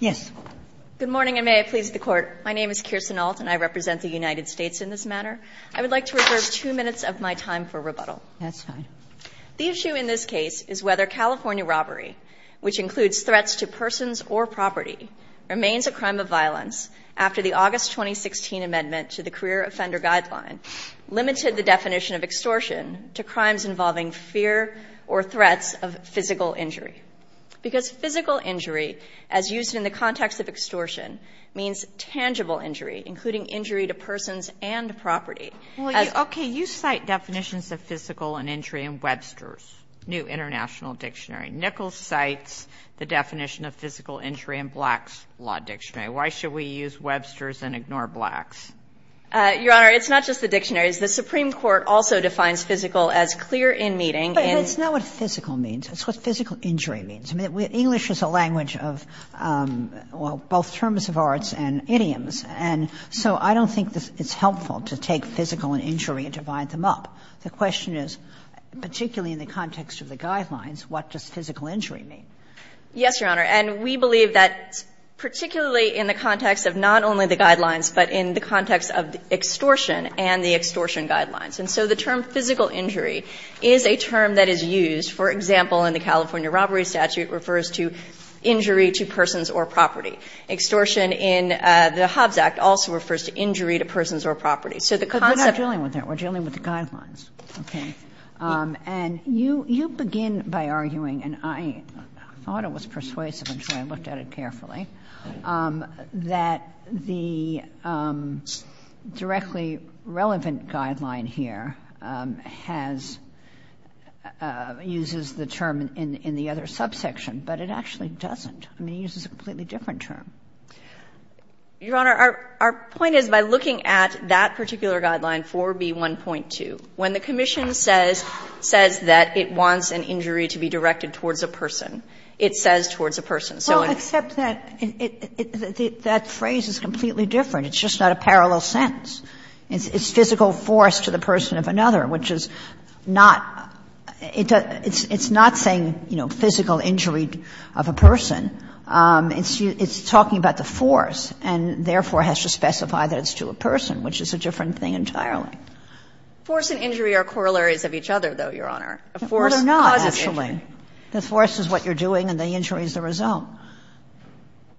Good morning, and may I please the Court. My name is Kirsten Ault, and I represent the United States in this matter. I would like to reserve two minutes of my time for rebuttal. That's fine. The issue in this case is whether California robbery, which includes threats to persons or property, remains a crime of violence after the August 2016 amendment to the Career Offender Guideline limited the definition of extortion to crimes involving fear or threats of physical injury, because physical injury, as used in the context of extortion, means tangible injury, including injury to persons and property. Well, okay, you cite definitions of physical and injury in Webster's New International Dictionary. Nickles cites the definition of physical injury in Black's Law Dictionary. Why should we use Webster's and ignore Black's? Your Honor, it's not just the dictionary. The Supreme Court also defines physical as clear in meeting and – But it's not what physical means. It's what physical injury means. I mean, English is a language of, well, both terms of arts and idioms, and so I don't think it's helpful to take physical and injury and divide them up. The question is, particularly in the context of the Guidelines, what does physical injury mean? Yes, Your Honor, and we believe that particularly in the context of not only the Guidelines, but in the context of extortion and the extortion Guidelines. And so the term physical injury is a term that is used, for example, in the California Robbery Statute refers to injury to persons or property. Extortion in the Hobbs Act also refers to injury to persons or property. So the concept of the Guidelines, and you begin by arguing, and I thought it was persuasive and so I looked at it carefully, that the directly relevant Guideline here has – uses the term in the other subsection, but it actually doesn't. I mean, it uses a completely different term. Your Honor, our point is by looking at that particular Guideline 4B1.2, when the commission says that it wants an injury to be directed towards a person, it says towards a person. Well, except that it – that phrase is completely different. It's just not a parallel sentence. It's physical force to the person of another, which is not – it's not saying, you know, physical injury of a person. It's talking about the force and therefore has to specify that it's to a person, which is a different thing entirely. Force and injury are corollaries of each other, though, Your Honor. A force causes injury. Well, they're not, actually. The force is what you're doing and the injury is the result.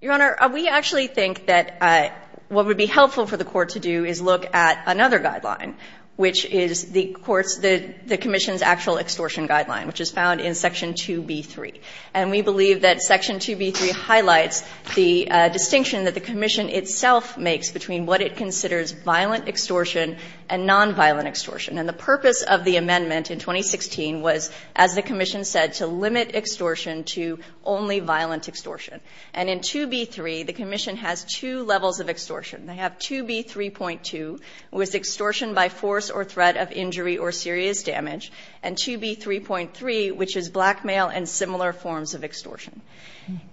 Your Honor, we actually think that what would be helpful for the Court to do is look at another Guideline, which is the Court's – the commission's actual extortion Guideline, which is found in Section 2B3. And we believe that Section 2B3 highlights the distinction that the commission itself makes between what it considers violent extortion and nonviolent extortion. And the purpose of the amendment in 2016 was, as the commission said, to limit extortion to only violent extortion. And in 2B3, the commission has two levels of extortion. They have 2B3.2, which is extortion by force or threat of injury or serious damage, and 2B3.3, which is blackmail and similar forms of extortion.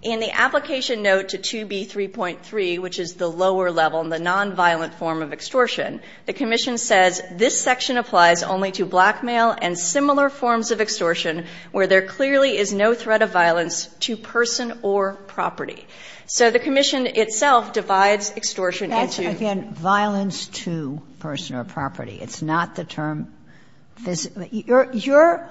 In the application note to 2B3.3, which is the lower level, the nonviolent form of extortion, the commission says, this section applies only to blackmail and similar forms of extortion where there clearly is no threat of violence to person or property. So the commission itself divides extortion into – Sotomayor, that's, again, violence to person or property. It's not the term – your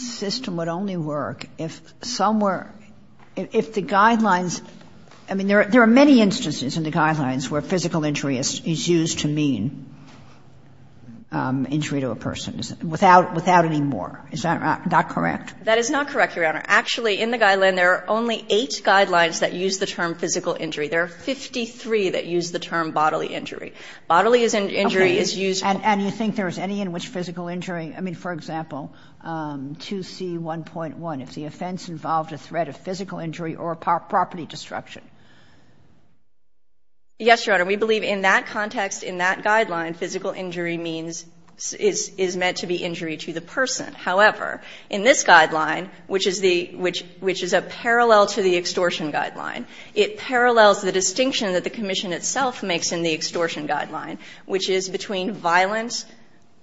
system would only work if somewhere – if the Guidelines – I mean, there are many instances in the Guidelines where physical injury is used to mean injury to a person, without any more. Is that not correct? That is not correct, Your Honor. Actually, in the Guidelines, there are only eight Guidelines that use the term physical injury. There are 53 that use the term bodily injury. Bodily injury is used for – And you think there is any in which physical injury – I mean, for example, 2C1.1, if the offense involved a threat of physical injury or property destruction. Yes, Your Honor. We believe in that context, in that Guideline, physical injury means – is meant to be injury to the person. However, in this Guideline, which is the – which is a parallel to the extortion Guideline, it parallels the distinction that the commission itself makes in the extortion Guideline, which is between violent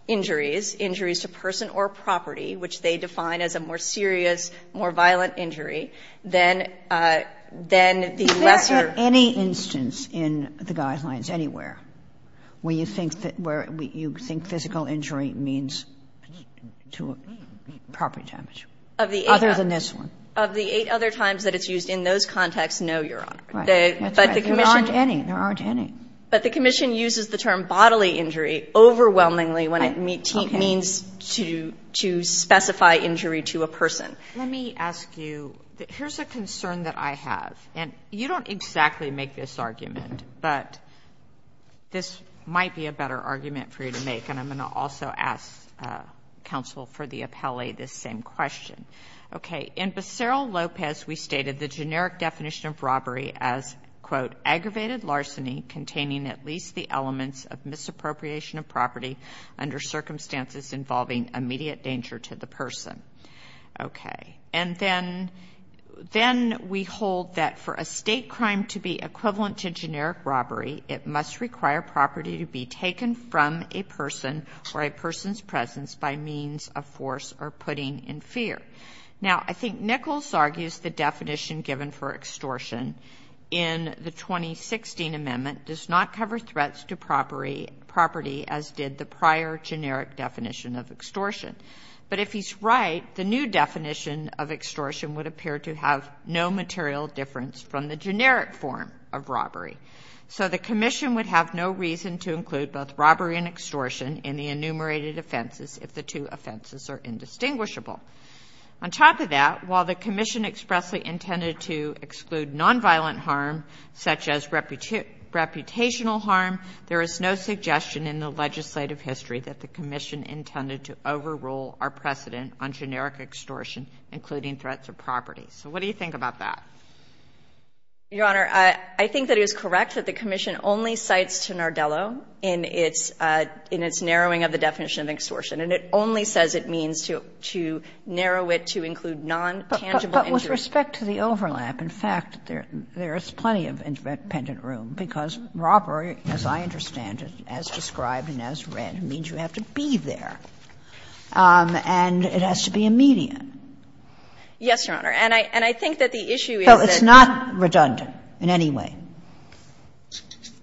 injuries, injuries to person or property, which they define as a more serious, more violent injury, than the lesser – Is there any instance in the Guidelines anywhere where you think that – where you think physical injury means to property damage, other than this one? Of the eight other times that it's used in those contexts, no, Your Honor. Right. That's right. There aren't any. There aren't any. But the commission uses the term bodily injury overwhelmingly when it means to specify injury to a person. Let me ask you – here's a concern that I have, and you don't exactly make this argument, but this might be a better argument for you to make. And I'm going to also ask counsel for the appellee this same question. Okay. In Becerra-Lopez, we stated the generic definition of robbery as, quote, containing at least the elements of misappropriation of property under circumstances involving immediate danger to the person. Okay. And then – then we hold that for a state crime to be equivalent to generic robbery, it must require property to be taken from a person or a person's presence by means of force or putting in fear. Now, I think Nichols argues the definition given for extortion in the 2016 amendment does not cover threats to property as did the prior generic definition of extortion. But if he's right, the new definition of extortion would appear to have no material difference from the generic form of robbery. So the commission would have no reason to include both robbery and extortion in the enumerated offenses if the two offenses are indistinguishable. On top of that, while the commission expressly intended to exclude nonviolent harm, such as reputational harm, there is no suggestion in the legislative history that the commission intended to overrule our precedent on generic extortion, including threats of property. So what do you think about that? Your Honor, I think that it is correct that the commission only cites Tenardello in its – in its narrowing of the definition of extortion. And it only says it means to narrow it to include non-tangible injuries. But with respect to the overlap, in fact, there is plenty of independent room, because robbery, as I understand it, as described and as read, means you have to be there, and it has to be immediate. Yes, Your Honor. And I think that the issue is that the issue is that it's not redundant in any way.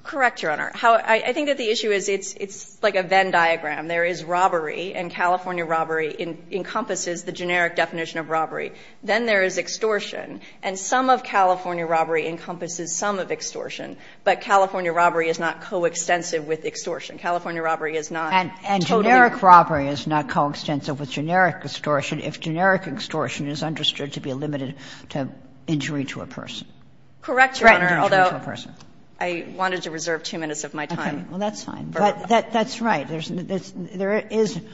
Correct, Your Honor. I think that the issue is it's like a Venn diagram. There is robbery, and California robbery encompasses the generic definition of robbery. Then there is extortion, and some of California robbery encompasses some of extortion. But California robbery is not coextensive with extortion. California robbery is not totally – And generic robbery is not coextensive with generic extortion if generic extortion is understood to be limited to injury to a person. Correct, Your Honor, although – Threaten to injury to a person. I wanted to reserve two minutes of my time. Okay. Well, that's fine. But that's right. There is –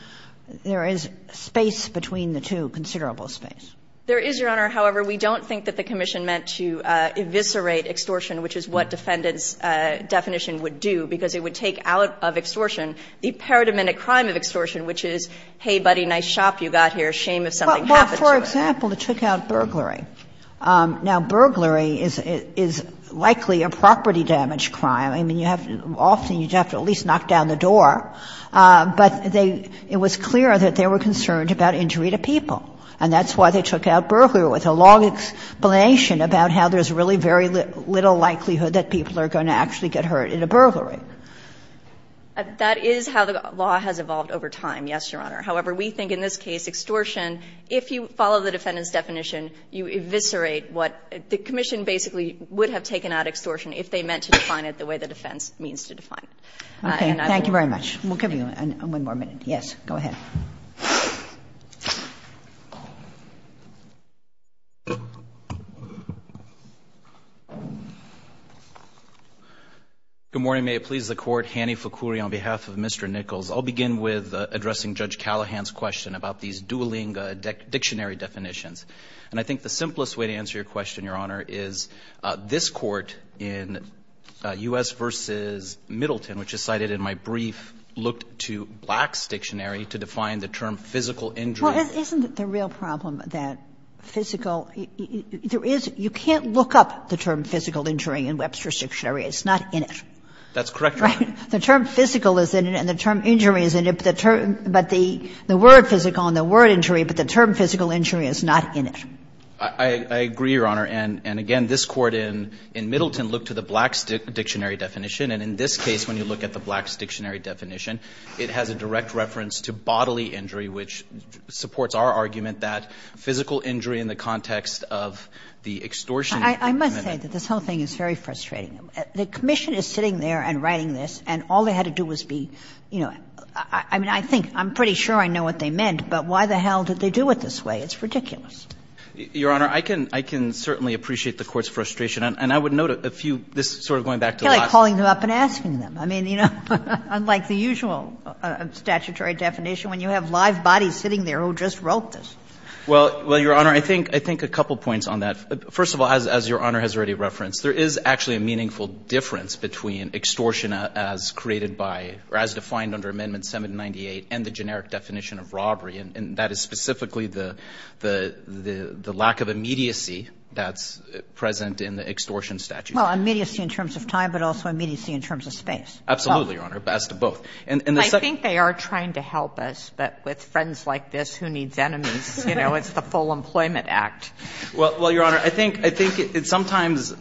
there is space between the two, considerable space. There is, Your Honor. However, we don't think that the commission meant to eviscerate extortion, which is what defendant's definition would do, because it would take out of extortion the paradigmatic crime of extortion, which is, hey, buddy, nice shop you got here, shame if something happened to it. Well, for example, to take out burglary. Now, burglary is likely a property damage crime. I mean, you have to – often you have to at least knock down the door. But they – it was clear that they were concerned about injury to people, and that's why they took out burglary, with a long explanation about how there's really very little likelihood that people are going to actually get hurt in a burglary. That is how the law has evolved over time, yes, Your Honor. However, we think in this case extortion, if you follow the defendant's definition, you eviscerate what – the commission basically would have taken out extortion if they meant to define it the way the defense means to define it. Okay. Thank you very much. We'll give you one more minute. Yes. Go ahead. Good morning. May it please the Court. Hanni Foukouri on behalf of Mr. Nichols. I'll begin with addressing Judge Callahan's question about these dueling dictionary definitions. And I think the simplest way to answer your question, Your Honor, is this Court in U.S. v. Middleton, which is cited in my brief, looked to Black's dictionary to define the term physical injury. Well, isn't the real problem that physical – there is – you can't look up the term physical injury in Webster's dictionary. It's not in it. That's correct, Your Honor. Right? The term physical is in it and the term injury is in it, but the term – but the word physical and the word injury, but the term physical injury is not in it. I agree, Your Honor. And again, this Court in Middleton looked to the Black's dictionary definition. And in this case, when you look at the Black's dictionary definition, it has a direct reference to bodily injury, which supports our argument that physical injury in the context of the extortion in the menu. I must say that this whole thing is very frustrating. The commission is sitting there and writing this, and all they had to do was be, you know – I mean, I think – I'm pretty sure I know what they meant, but why the hell did they do it this way? It's ridiculous. Your Honor, I can – I can certainly appreciate the Court's frustration. And I would note a few – this is sort of going back to the last – It's like calling them up and asking them. I mean, you know, unlike the usual statutory definition when you have live bodies sitting there who just wrote this. Well, Your Honor, I think a couple points on that. First of all, as Your Honor has already referenced, there is actually a meaningful difference between extortion as created by – or as defined under Amendment 798 and the generic definition of robbery, and that is specifically the – the lack of immediacy that's present in the extortion statute. Well, immediacy in terms of time, but also immediacy in terms of space. Absolutely, Your Honor, as to both. And the second – I think they are trying to help us, but with friends like this, who needs enemies? You know, it's the Full Employment Act. Well, Your Honor, I think – I think it's sometimes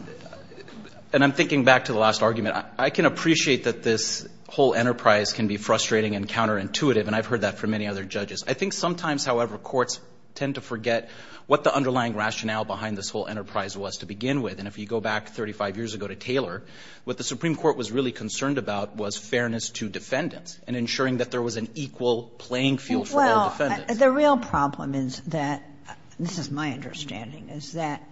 – and I'm thinking back to the last argument. I can appreciate that this whole enterprise can be frustrating and counterintuitive, and I've heard that from many other judges. I think sometimes, however, courts tend to forget what the underlying rationale behind this whole enterprise was to begin with. And if you go back 35 years ago to Taylor, what the Supreme Court was really concerned about was fairness to defendants and ensuring that there was an equal playing field for all defendants. Well, the real problem is that – this is my understanding – is that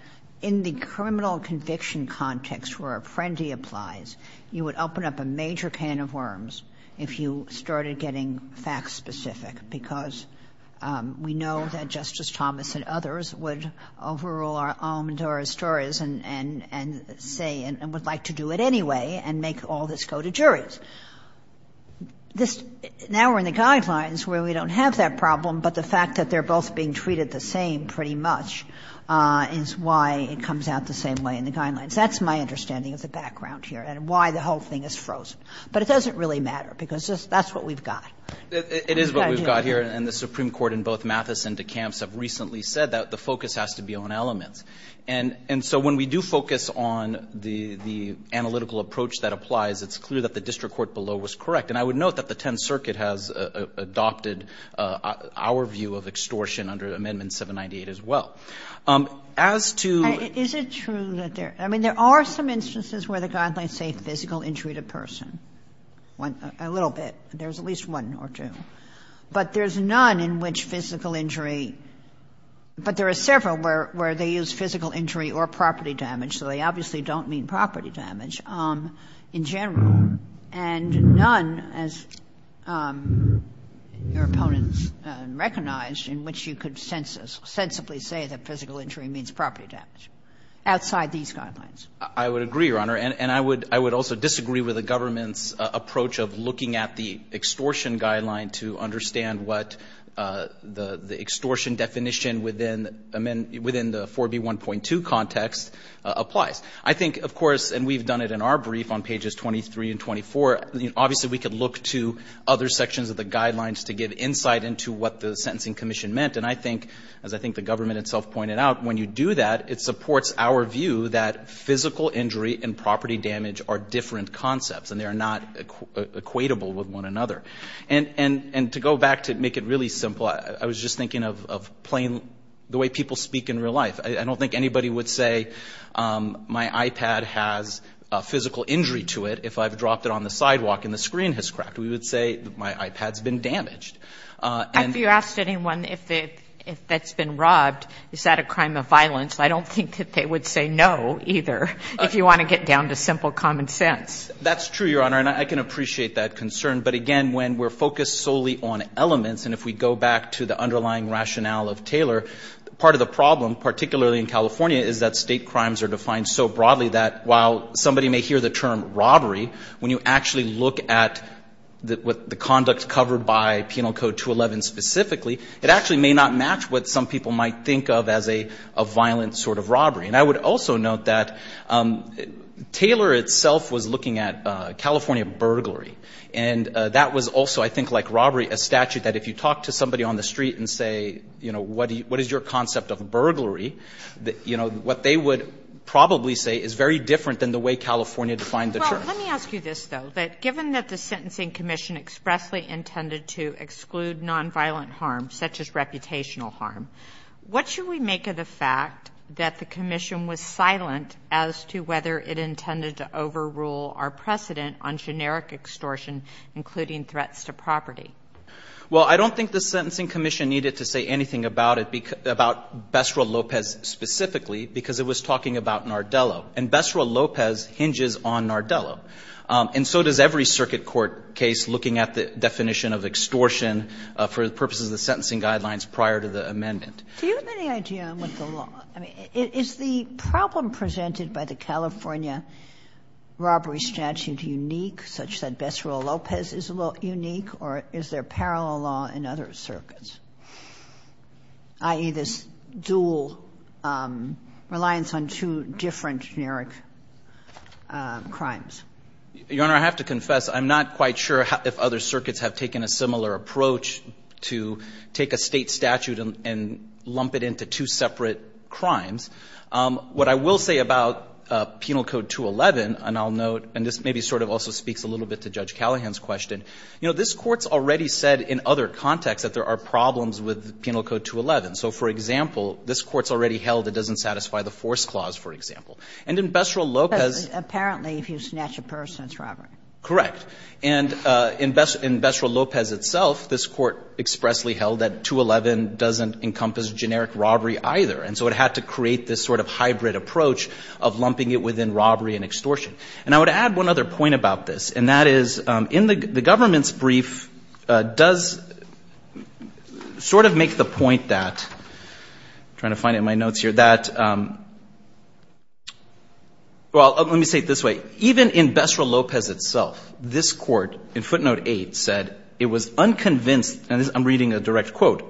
in the criminal conviction context where a friendly applies, you would open up a major can of worms if you started getting facts specific, because we know that Justice Thomas and others would overrule our own stories and say – and would like to do it anyway and make all this go to juries. This – now we're in the Guidelines where we don't have that problem, but the fact that they're both being treated the same pretty much is why it comes out the same way in the Guidelines. That's my understanding of the background here and why the whole thing is frozen. But it doesn't really matter, because that's what we've got. Goldstein, Jr. It is what we've got here, and the Supreme Court in both Mathis and DeCamps have recently said that the focus has to be on elements. And so when we do focus on the analytical approach that applies, it's clear that the district court below was correct. And I would note that the Tenth Circuit has adopted our view of extortion under Amendment 798 as well. As to – Kagan. Is it true that there – I mean, there are some instances where the Guidelines say physical injury to person. A little bit. There's at least one or two. But there's none in which physical injury – but there are several where they use physical injury or property damage, so they obviously don't mean property damage in general. And none, as your opponents recognized, in which you could sensibly say that physical injury means property damage, outside these Guidelines. I would agree, Your Honor. And I would also disagree with the government's approach of looking at the extortion Guideline to understand what the extortion definition within the 4B1.2 context applies. I think, of course – and we've done it in our brief on pages 23 and 24. Obviously, we could look to other sections of the Guidelines to give insight into what the Sentencing Commission meant. And I think, as I think the government itself pointed out, when you do that, it physical injury and property damage are different concepts, and they are not equatable with one another. And to go back to make it really simple, I was just thinking of plain – the way people speak in real life. I don't think anybody would say, my iPad has a physical injury to it if I've dropped it on the sidewalk and the screen has cracked. We would say, my iPad's been damaged. And – Have you asked anyone if it – if that's been robbed, is that a crime of violence? I don't think that they would say no, either, if you want to get down to simple common sense. That's true, Your Honor. And I can appreciate that concern. But again, when we're focused solely on elements, and if we go back to the underlying rationale of Taylor, part of the problem, particularly in California, is that State crimes are defined so broadly that while somebody may hear the term robbery, when you actually look at the conduct covered by Penal Code 211 specifically, it actually may not match what some people might think of as a violent sort of robbery. And I would also note that Taylor itself was looking at California burglary. And that was also, I think, like robbery, a statute that if you talk to somebody on the street and say, you know, what is your concept of burglary, that, you know, what they would probably say is very different than the way California defined the term. Well, let me ask you this, though, that given that the Sentencing Commission expressly intended to exclude nonviolent harm, such as reputational harm, what should we make of the fact that the Commission was silent as to whether it intended to overrule our precedent on generic extortion, including threats to property? Well, I don't think the Sentencing Commission needed to say anything about it, about Besra Lopez specifically, because it was talking about Nardello. And Besra Lopez hinges on Nardello. And so does every circuit court case looking at the definition of extortion for the purposes of the sentencing guidelines prior to the amendment. Do you have any idea on what the law – I mean, is the problem presented by the California robbery statute unique, such that Besra Lopez is unique, or is there parallel law in other circuits, i.e., this dual reliance on two different generic crimes? Your Honor, I have to confess, I'm not quite sure if other circuits have taken a similar approach to take a State statute and lump it into two separate crimes. What I will say about Penal Code 211, and I'll note, and this maybe sort of also speaks a little bit to Judge Callahan's question, you know, this Court's already said in other contexts that there are problems with Penal Code 211. So, for example, this Court's already held it doesn't satisfy the force clause, for example. And in Besra Lopez – Apparently, if you snatch a person, it's robbery. Correct. And in Besra Lopez itself, this Court expressly held that 211 doesn't encompass generic robbery either, and so it had to create this sort of hybrid approach of lumping it within robbery and extortion. And I would add one other point about this, and that is in the government's brief does sort of make the point that – I'm trying to find it in my notes here – that – well, let me say it this way. Even in Besra Lopez itself, this Court in footnote 8 said it was unconvinced – and I'm reading a direct quote.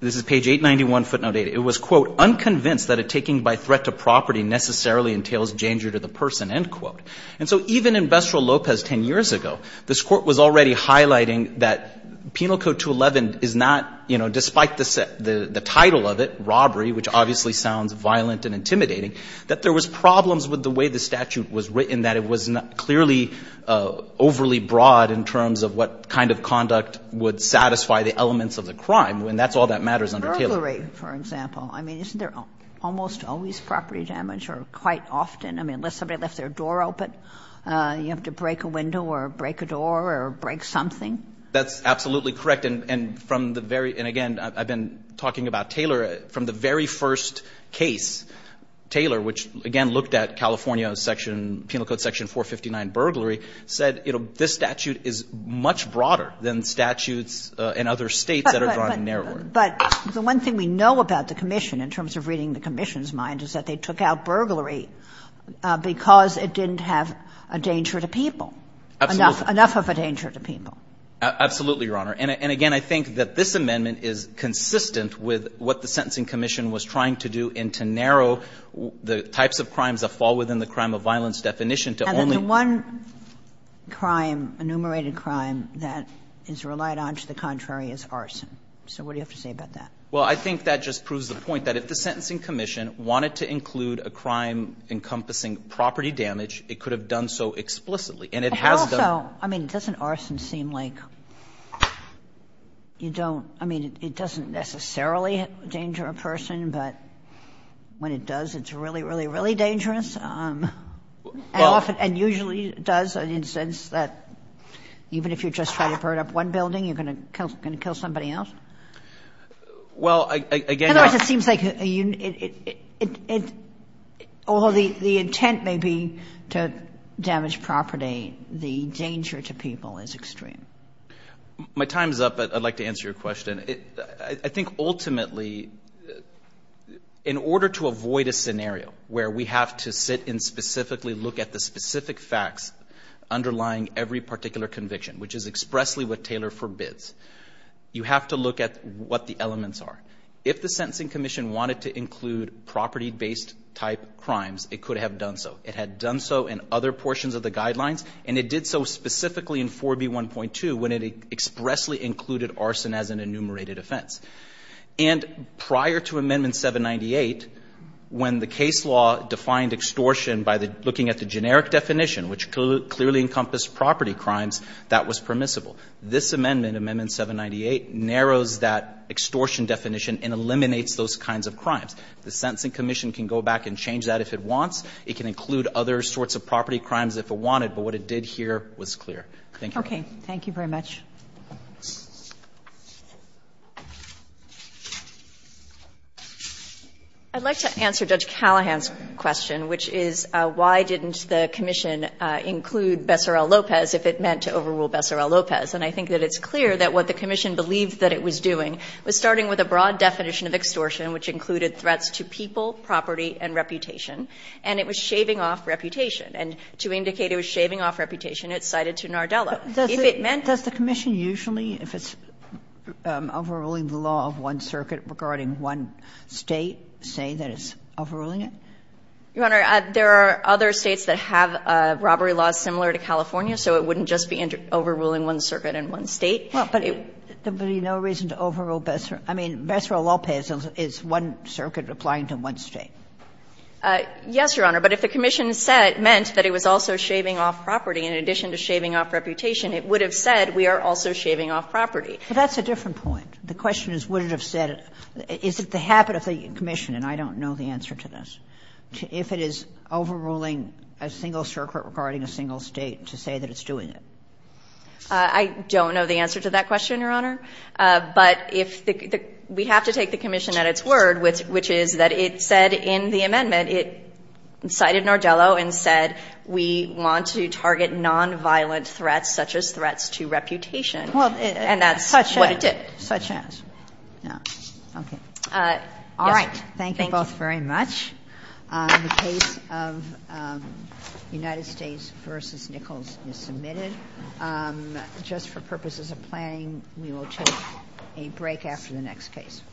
This is page 891, footnote 8. It was, quote, unconvinced that a taking by threat to property necessarily entails danger to the person, end quote. And so even in Besra Lopez 10 years ago, this Court was already highlighting that Penal Code 211 is not, you know, despite the title of it, robbery, which obviously sounds violent and intimidating, that there was problems with the way the statute was written, that it was clearly overly broad in terms of what kind of conduct would satisfy the elements of the crime. And that's all that matters under Taylor. Burglary, for example. I mean, isn't there almost always property damage or quite often? I mean, unless somebody left their door open, you have to break a window or break a door or break something? That's absolutely correct. And from the very – and again, I've been talking about Taylor. From the very first case, Taylor, which, again, looked at California section – Penal Code section 459, burglary, said, you know, this statute is much broader than statutes in other states that are drawn in narrower. But the one thing we know about the commission in terms of reading the commission's mind is that they took out burglary because it didn't have a danger to people. Enough of a danger to people. Absolutely, Your Honor. And again, I think that this amendment is consistent with what the Sentencing Commission was trying to do and to narrow the types of crimes that fall within the crime of violence definition to only one crime, enumerated crime, that is relied on to the contrary as arson. So what do you have to say about that? Well, I think that just proves the point that if the Sentencing Commission wanted to include a crime encompassing property damage, it could have done so explicitly. And it has done. So, I mean, doesn't arson seem like you don't – I mean, it doesn't necessarily danger a person, but when it does, it's really, really, really dangerous? And usually it does in the sense that even if you're just trying to burn up one building, you're going to kill somebody else? Well, again, Your Honor, it seems like a unit – although the intent may be to damage property, the danger to people is extreme. My time's up, but I'd like to answer your question. I think ultimately, in order to avoid a scenario where we have to sit and specifically look at the specific facts underlying every particular conviction, which is expressly what Taylor forbids, you have to look at what the elements are. If the Sentencing Commission wanted to include property-based type crimes, it could have done so. It had done so in other portions of the guidelines, and it did so specifically in 4B1.2 when it expressly included arson as an enumerated offense. And prior to Amendment 798, when the case law defined extortion by the – looking at the generic definition, which clearly encompassed property crimes, that was permissible. This amendment, Amendment 798, narrows that extortion definition and eliminates those kinds of crimes. The Sentencing Commission can go back and change that if it wants. It can include other sorts of property crimes if it wanted, but what it did here was clear. Thank you. Okay. Thank you very much. I'd like to answer Judge Callahan's question, which is, why didn't the Commission include Bessarra-Lopez if it meant to overrule Bessarra-Lopez? And I think that it's clear that what the Commission believed that it was doing was starting with a broad definition of extortion, which included threats to people, property, and reputation, and it was shaving off reputation. And to indicate it was shaving off reputation, it cited to Nardello. If it meant to do that. Does the Commission usually, if it's overruling the law of one circuit regarding one State, say that it's overruling it? Your Honor, there are other States that have robbery laws similar to California, so it wouldn't just be overruling one circuit in one State. Well, but there would be no reason to overrule Bessarra-Lopez. I mean, Bessarra-Lopez is one circuit applying to one State. Yes, Your Honor. But if the Commission said it meant that it was also shaving off property, in addition to shaving off reputation, it would have said we are also shaving off property. But that's a different point. The question is, would it have said it? Is it the habit of the Commission, and I don't know the answer to this, if it is overruling a single circuit regarding a single State to say that it's doing it? I don't know the answer to that question, Your Honor. But if the – we have to take the Commission at its word, which is that it said in the amendment, it cited Nardello and said we want to target nonviolent threats such as threats to reputation, and that's what it did. Well, such as, such as. All right. Thank you both very much. The case of United States v. Nichols is submitted. Just for purposes of planning, we will take a break after the next case.